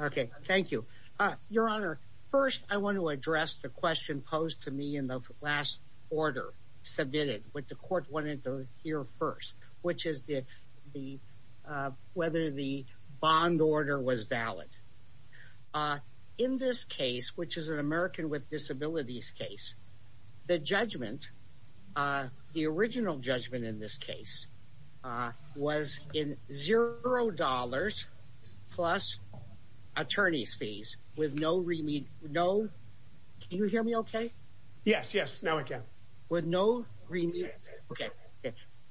Okay, thank you. Your Honor, first I want to address the question posed to me in the last order submitted, which the court wanted to hear first, which is the whether the bond order was valid. In this case, which is an American with disabilities case, the judgment, the original judgment in this case, was in zero dollars plus attorney's fees with no remediation, no, can you hear me okay? Yes, yes, now I can. With no remediation, okay,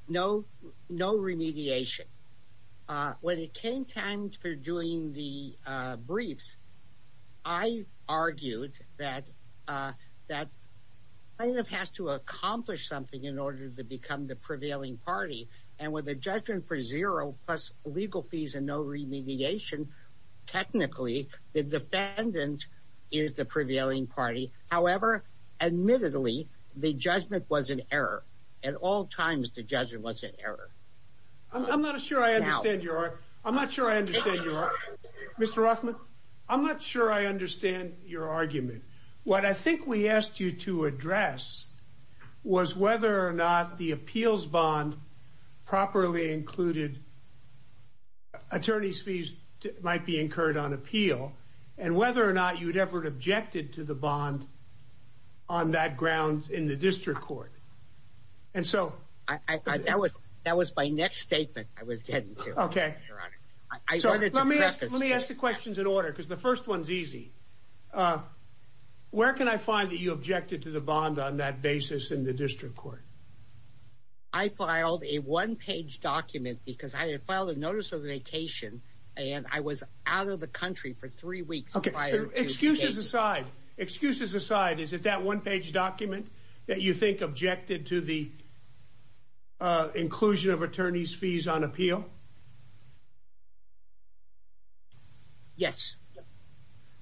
no remediation. When it came time for doing the briefs, I argued that plaintiff has to accomplish something in order to become the prevailing party, and with a judgment for zero plus legal fees and no remediation, technically the defendant is the prevailing party. However, admittedly, the judgment was an error. At all times, the judgment was an error. I'm not sure I understand your argument. Mr. Rothman, I'm not sure I or not the appeals bond properly included attorney's fees might be incurred on appeal, and whether or not you'd ever objected to the bond on that ground in the district court. And so I thought that was that was my next statement. I was getting to. Okay, so let me let me ask the questions in order because the first one's easy. Uh, where can I find that you objected to the bond on that basis in the district court? I filed a one page document because I had filed a notice of vacation and I was out of the country for three weeks. Okay, excuses aside, excuses aside, is it that one page document that you think objected to the inclusion of attorney's fees on appeal? Yes,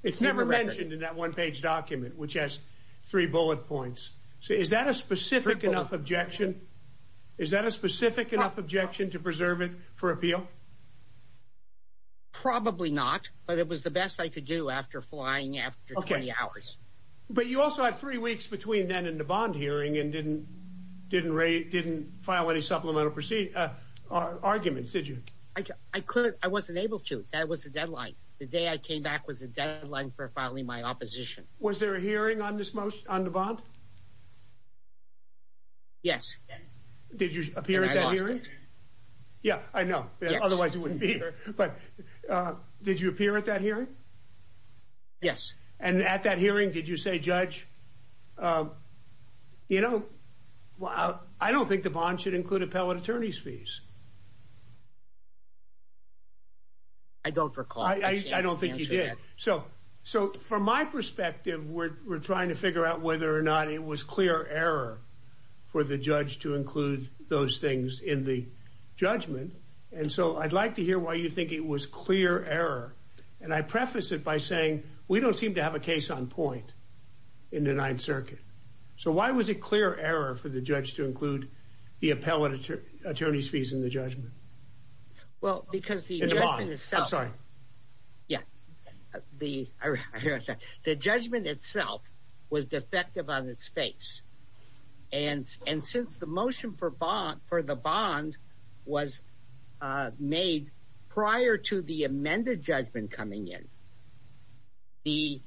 it's never mentioned in that one page document, which has three bullet points. So is that a specific enough objection? Is that a specific enough objection to preserve it for appeal? Probably not. But it was the best I could do after flying after 20 hours. But you also have three weeks between then and the bond hearing and didn't didn't rate didn't file any supplemental proceed. Uh, arguments. Did you? I couldn't. I wasn't able to. That was the deadline. The day I came back was a deadline for filing my opposition. Was there a hearing on this most on the bond? Yes. Did you appear in that hearing? Yeah, I know. Otherwise it wouldn't be here. But, uh, did you appear at that hearing? Yes. And at that hearing, did you say, Judge? Uh, you know, well, I don't think the bond should include appellate attorney's fees. I don't recall. I don't think you did. So So from my perspective, we're trying to figure out whether or not it was clear error for the judge to include those things in the judgment. And so I'd like to hear why you think it was clear error. And I preface it by saying we don't seem to have a case on point in the Ninth Circuit. So why was it clear error for the judge to include the appellate attorney's fees in the judgment? Well, because the bond is was defective on its face. And and since the motion for bond for the bond was made prior to the amended judgment coming in, the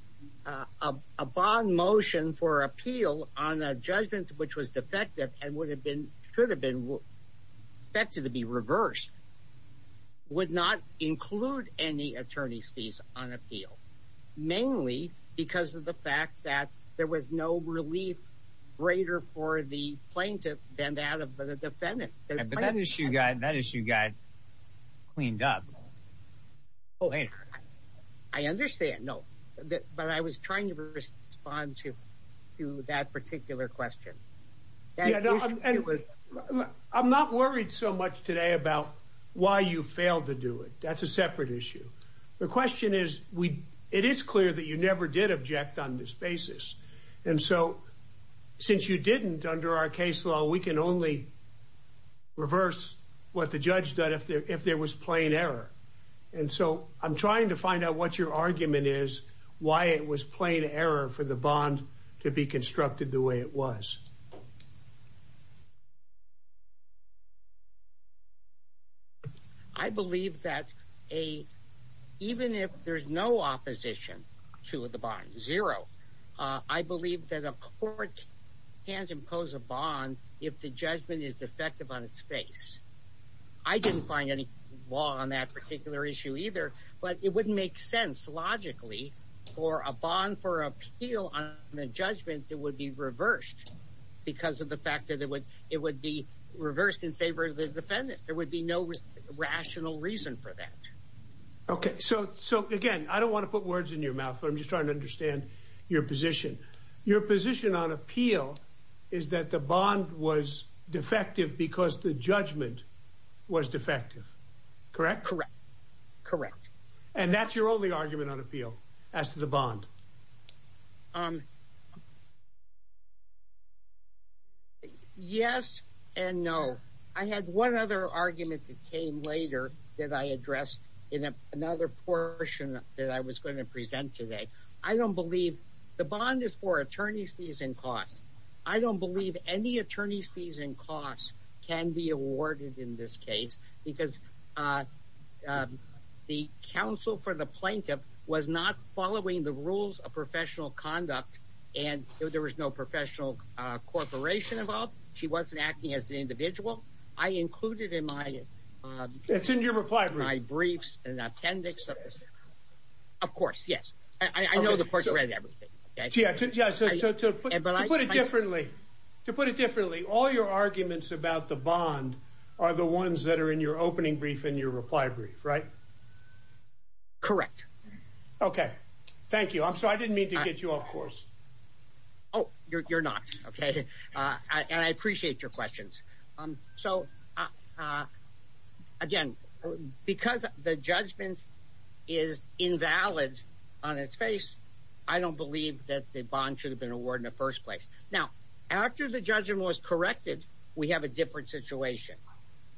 upon motion for appeal on a judgment which was defective and would have been should have been expected to be reversed, would not include any attorney's fees on appeal, mainly because of the fact that there was no relief greater for the plaintiff than that of the defendant. But that issue got that issue got cleaned up. Oh, I understand. No, but I was trying to respond to to that particular question. And it was I'm not worried so much today about why you failed to do it. That's a separate issue. The question is, it is clear that you never did object on this basis. And so, since you didn't under our case law, we can only reverse what the judge that if there if there was plain error. And so I'm trying to find out what your argument is, why it was plain error for the bond to be constructed the way it was. I believe that a even if there's no opposition to the bond zero, I believe that a court can't impose a bond if the judgment is defective on its face. I didn't find any law on that particular issue either, but it would make sense logically for a bond for appeal on the judgment that would be reversed because of the fact that it would it would be reversed in favor of the defendant. There would be no rational reason for that. Okay, so so again, I don't want to put words in your mouth. I'm just trying to understand your position. Your position on appeal is that the bond was defective because the judgment was defective. Correct. Correct. Correct. And that's your only argument on appeal as to the bond. Um, yes and no. I had one other argument that came later that I addressed in another portion that I was going to present today. I don't believe the bond is for attorney's fees and costs. I don't believe any attorney's fees and costs can be awarded in this case because, uh, uh, the counsel for the plaintiff was not following the rules of professional conduct and there was no professional corporation involved. She wasn't acting as the individual. I included in my, uh, it's in your reply briefs and appendix of this. Of course, yes, I know the court read everything. Yeah, but I put it differently to put it differently. All your arguments about the bond are the ones that are in your opening brief in your reply brief, right? Correct. Okay, thank you. I'm sorry. I didn't mean to get you off course. Oh, you're not. Okay. Uh, and I appreciate your questions. Um, so, uh, again, because the judgment is invalid on its face, I don't believe that the bond should have been awarded in the first place. Now, after the judgment was corrected, we have a different situation.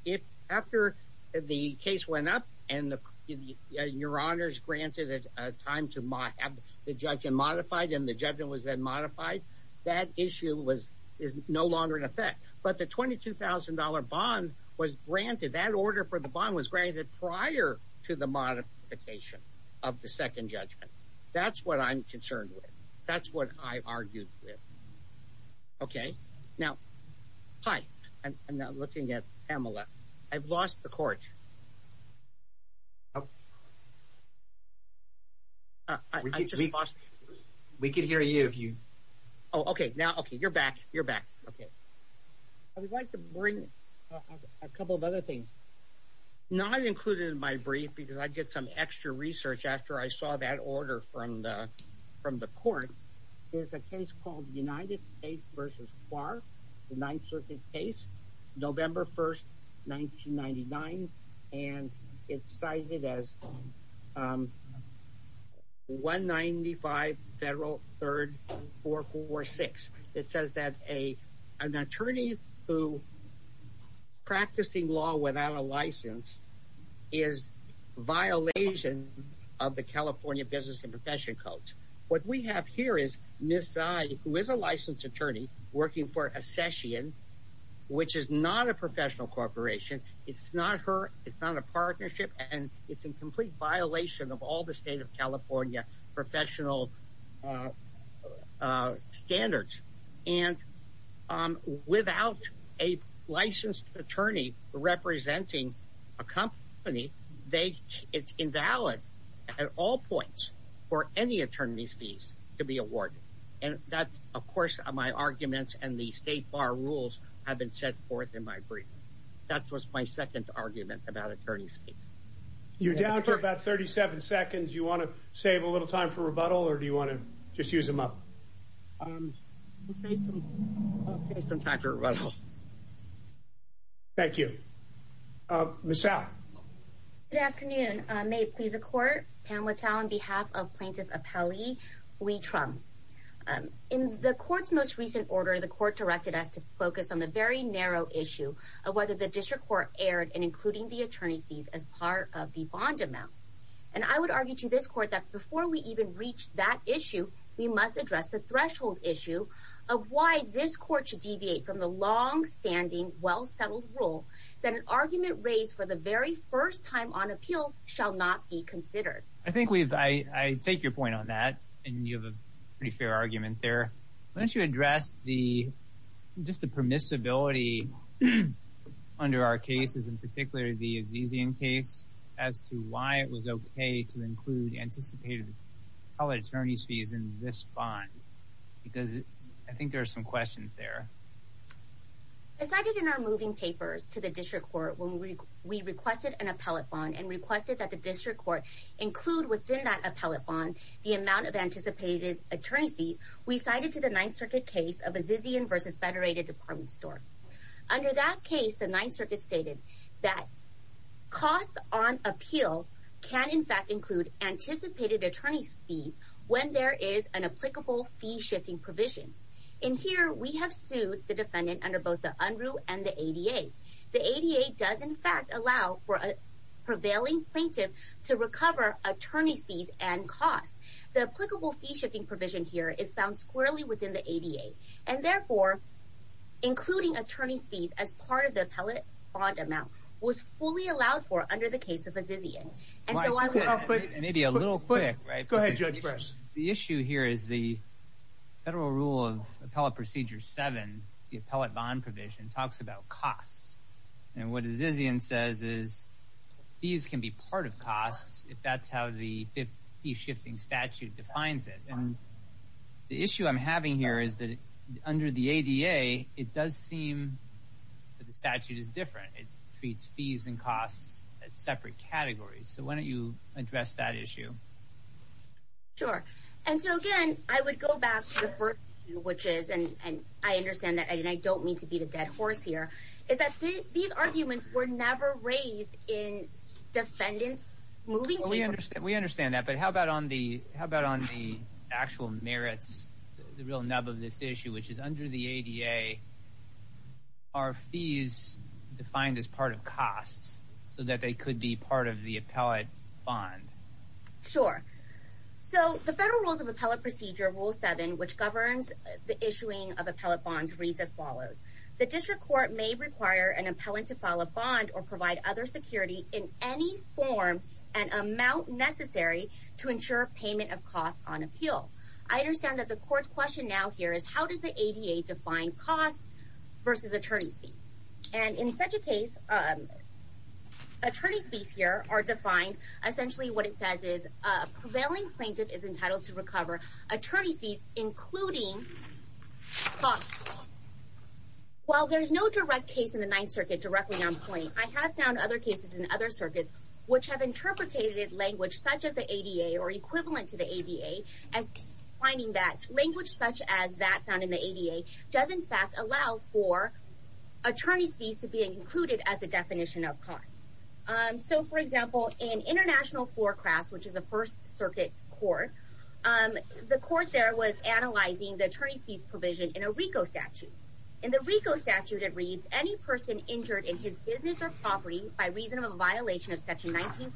If after the case went up and the your honors granted a time to my have the judge and modified and the that issue was is no longer in effect. But the $22,000 bond was granted. That order for the bond was granted prior to the modification of the second judgment. That's what I'm concerned with. That's what I argued with. Okay, now, hi. I'm not looking at Pamela. I've lost the court. Okay, now, okay, you're back. You're back. Okay. I would like to bring a couple of other things not included in my brief because I get some extra research after I saw that order from the from the court. There's a case called the United States versus bar, the Ninth Circuit case, November 1st, 1999. And it's cited as, um, 1 95 Federal 3rd 446. It says that a an attorney who practicing law without a license is violation of the California business and session codes. What we have here is Miss I was a licensed attorney working for a session, which is not a professional corporation. It's not her. It's not a partnership, and it's in complete violation of all the state of California professional, uh, uh, standards. And, um, without a licensed attorney representing a company, they it's invalid at all points for any attorneys fees to be awarded. And that, of course, my arguments and the state bar rules have been set forth in my brief. That was my second argument about attorneys. You're down to about 37 seconds. You want to save a little time for rebuttal, or do you want to just use him up? Um, say some time for a little. Thank you. Uh, the South Good afternoon. May it please the court. Pam, what's our on behalf of plaintiff appellee? We trump. Um, in the court's most recent order, the court directed us to focus on the very narrow issue of whether the district court aired and including the attorneys fees as part of the bond amount. And I would argue to this court that before we even reached that issue, we must address the longstanding, well settled rule that an argument raised for the very first time on appeal shall not be considered. I think we've I take your point on that, and you have a pretty fair argument there. Why don't you address the just the permissibility under our cases, in particular, the is easy in case as to why it was okay to include anticipated how attorneys fees in this bond? Because I think there's some questions there. Decided in our moving papers to the district court when we requested an appellate bond and requested that the district court include within that appellate bond the amount of anticipated attorneys fees. We cited to the Ninth Circuit case of a Zizian versus Federated Department store. Under that case, the Ninth Circuit stated that cost on appeal can in fact include anticipated attorneys fees when there is an applicable fee shifting provision in here. We have sued the defendant under both the Andrew and the 88. The 88 does, in fact, allow for a prevailing plaintiff to recover attorneys fees and cost. The applicable fee shifting provision here is found squarely within the 88 and therefore including attorneys fees as part of the appellate bond amount was fully allowed for under the case of a Zizian. And so maybe a little quick, right? Go ahead, Judge. The issue here is the federal rule of Appellate Procedure seven. The appellate bond provision talks about costs. And what is easy and says is these can be part of costs. If that's how the 50 shifting statute defines it. And the issue I'm having here is that under the 88, it does seem that the statute is different. It treats fees and costs as separate categories. So why don't you address that issue? Sure. And so again, I would go back to the first, which is and I understand that I don't mean to be the dead horse here is that these arguments were never raised in defendants moving. We understand. We understand that. But how about on the how about on the actual merits? The real nub of this issue, which is under the 88 are fees defined as part of costs so that they could be part of the appellate bond? Sure. So the federal rules of Appellate Procedure rule seven, which governs the issuing of appellate bonds, reads as follows. The district court may require an appellant to file a bond or provide other security in any form and amount necessary to ensure payment of costs on appeal. I understand that the court's question now here is how does the 88 define costs versus attorneys fees? And in such a case, attorneys fees here are defined essentially what it says is a prevailing plaintiff is entitled to recover attorney's fees, including costs. While there's no direct case in the Ninth Circuit directly on point, I have found other cases in other circuits, which have interpreted language such as the 88 or equivalent to 88 as finding that language such as that found in the 88 does, in fact, allow for attorneys fees to be included as a definition of cost. So, for example, in International Forecrafts, which is a First Circuit court, the court there was analyzing the attorneys fees provision in a RICO statute. In the RICO statute, it reads any person injured in his business or property by reason of a violation of section 19.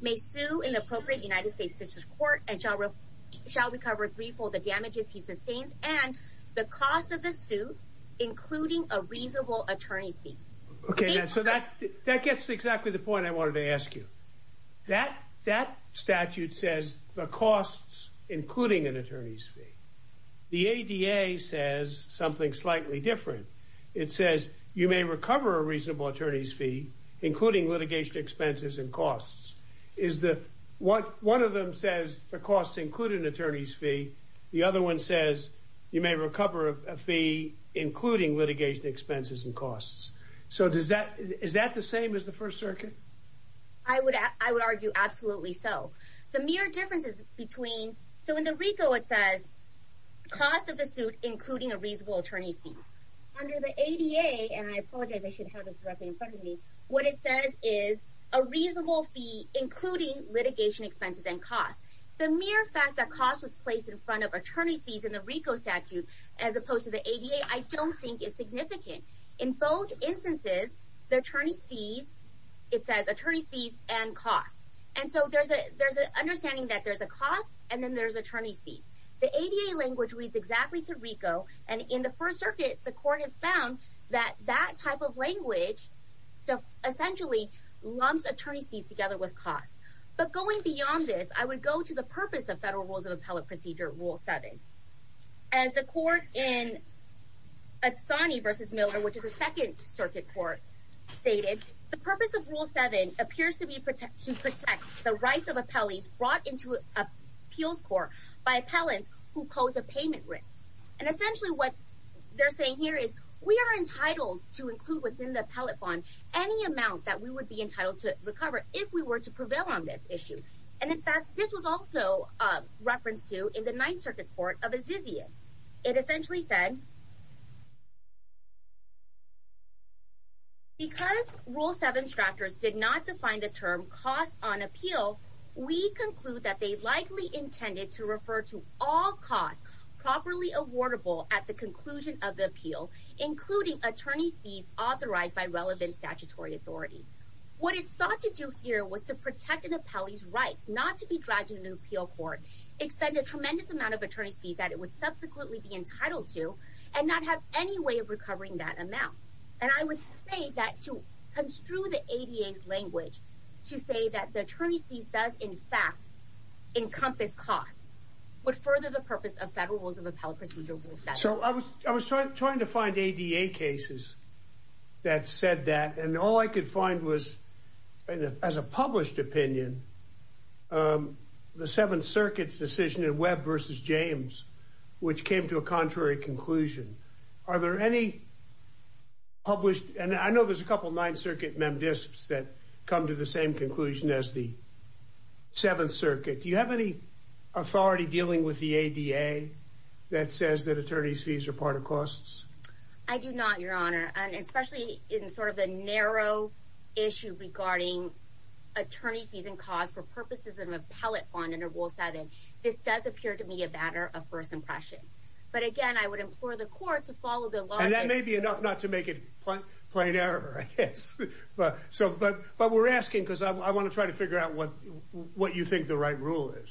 May sue in the appropriate United States court and shall recover threefold the damages he sustains and the cost of the suit, including a reasonable attorney's fee. Okay, so that gets exactly the point I wanted to ask you. That statute says the costs, including an attorney's fee. The ADA says something slightly different. It says you may recover a reasonable attorney's fee, including litigation expenses and costs. One of them says the costs include an attorney's fee. The other one says you may recover a fee, including litigation expenses and costs. So, is that the same as the First Circuit? I would argue absolutely so. The mere difference is between... So, in the RICO, it says cost of the suit, including a reasonable attorney's fee. Under the ADA, and I apologize, I should have this directly in front of me, what it says is a reasonable fee, including litigation expenses and costs. The mere fact that cost was placed in front of attorney's fees in the RICO statute, as opposed to the ADA, I don't think is significant. In both instances, the attorney's fees, it says attorney's fees and costs. And so, there's an understanding that there's a cost and then there's attorney's fees. The ADA language reads exactly to RICO, and in the First Circuit, the court has found that that type of language essentially lumps attorney's fees together with costs. But going beyond this, I would go to the purpose of federal rules of appellate procedure, Rule 7. As the court in Adesany v. Miller, which is the Second Circuit Court, stated, the purpose of Rule 7 appears to be to protect the rights of appellees brought into appeals court by appellants who pose a payment risk. And essentially, what they're saying here is, we are entitled to include within the appellate bond any amount that we would be entitled to recover if we were to prevail on this issue. And in fact, this was also referenced to in the Ninth Circuit Court of Adesany. It essentially said, because Rule 7's drafters did not define the term cost on appeal, we conclude that they likely intended to refer to all costs properly awardable at the conclusion of the appeal, including attorney's fees authorized by relevant statutory authority. What it sought to do here was to protect an appellee's rights, not to be dragged into an appeal court, expend a tremendous amount of attorney's fees that it would subsequently be entitled to, and not have any way of recovering that amount. And I would say that to construe the ADA's language, to say that the attorney's fees does, in fact, encompass costs, would further the purpose of Federal Rules of Appellate Procedure Rule 7. So, I was trying to find ADA cases that said that, and all I could find was, as a published opinion, the Seventh Circuit's decision in Webb versus James, which came to a contrary conclusion. Are there any published, and I know there's a couple of Ninth Circuit MemDiscs that come to the same conclusion as the Seventh Circuit. Do you have any authority dealing with the ADA that says that attorney's fees are part of costs? I do not, Your Honor, and especially in sort of a narrow issue regarding attorney's fees and costs for purposes of an appellate bond under Rule 7. This does appear to me a matter of first impression. But again, I would implore the court to follow the logic. And that is, but we're asking because I want to try to figure out what you think the right rule is.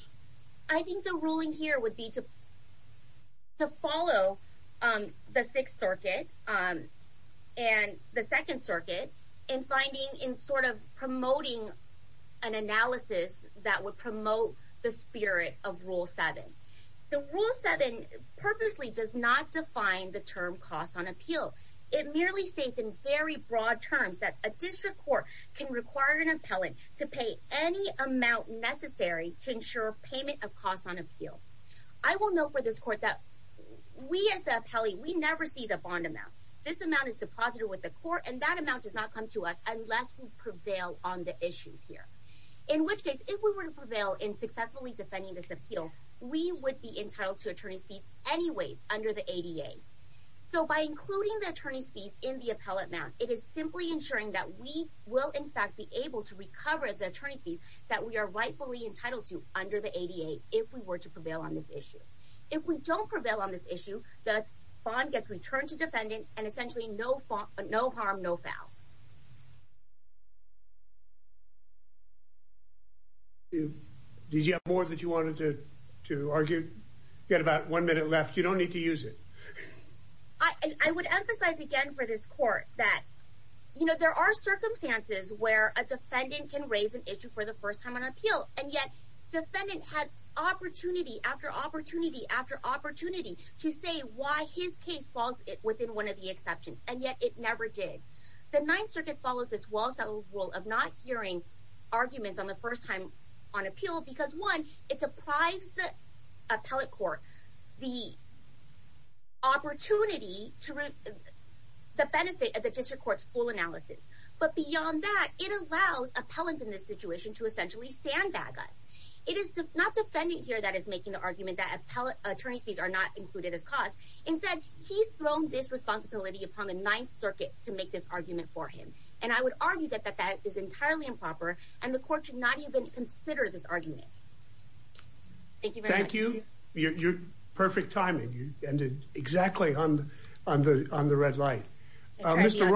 I think the ruling here would be to follow the Sixth Circuit and the Second Circuit in finding, in sort of promoting an analysis that would promote the spirit of Rule 7. The Rule 7 purposely does not define the term cost on appeal. It merely states in very broad terms that a district court can require an appellant to pay any amount necessary to ensure payment of costs on appeal. I will note for this court that we, as the appellee, we never see the bond amount. This amount is deposited with the court, and that amount does not come to us unless we prevail on the issues here. In which case, if we were to prevail in successfully defending this appeal, we would be entitled to attorney's fees always under the ADA. So by including the attorney's fees in the appellate amount, it is simply ensuring that we will, in fact, be able to recover the attorney's fees that we are rightfully entitled to under the ADA if we were to prevail on this issue. If we don't prevail on this issue, the bond gets returned to defendant and essentially no harm, no foul. Did you have more that you wanted to argue? You had about one minute left. You don't need to use it. I would emphasize again for this court that, you know, there are circumstances where a defendant can raise an issue for the first time on appeal, and yet defendant had opportunity after opportunity after opportunity to say why his case falls within one of the exceptions, and yet it never did. The Ninth Circuit follows this well-settled rule of not hearing arguments on the first time on appeal because, one, it deprives the appellate court the opportunity to reap the benefit of the district court's full analysis. But beyond that, it allows appellants in this situation to essentially sandbag us. It is not defendant here that is making the argument that appellate attorney's fees are not included as cost. Instead, he's thrown this responsibility upon the Ninth Circuit to make this argument for him, and I would argue that that is entirely improper, and the court should not even consider this argument. Thank you. Thank you. Your perfect timing. You ended exactly on the red light. Mr.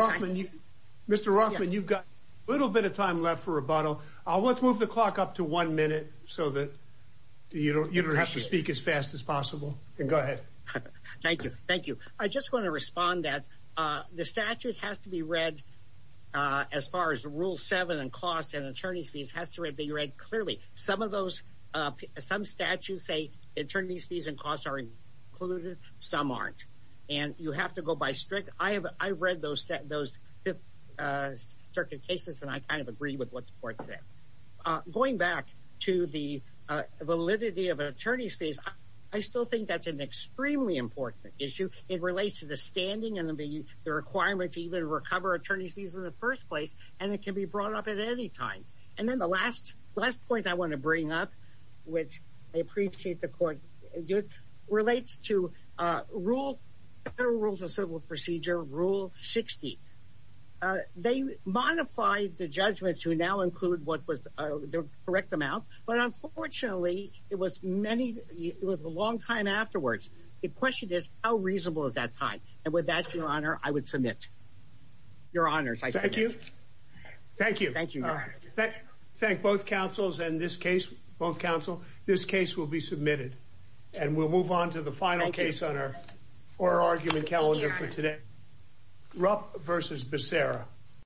Rothman, you've got a little bit of time left for rebuttal. Let's move the clock up to one minute so that you don't have to speak as Go ahead. Thank you. Thank you. I just want to respond that the statute has to be read as far as Rule 7 and cost and attorney's fees has to be read clearly. Some of those, some statutes say attorney's fees and costs are included. Some aren't, and you have to go by strict. I've read those Fifth Circuit cases, and I kind of agree with what the court said. Going back to the extremely important issue, it relates to the standing and the requirements to even recover attorney's fees in the first place, and it can be brought up at any time. And then the last point I want to bring up, which I appreciate the court relates to Federal Rules of Civil Procedure, Rule 60. They modified the judgment to now include what was the correct amount, but the question is, how reasonable is that time? And with that, Your Honor, I would submit. Your Honors, I submit. Thank you. Thank you. Thank you. Thank both counsels and this case, both counsel. This case will be submitted, and we'll move on to the final case on our oral argument calendar for today. Rupp v. Becerra.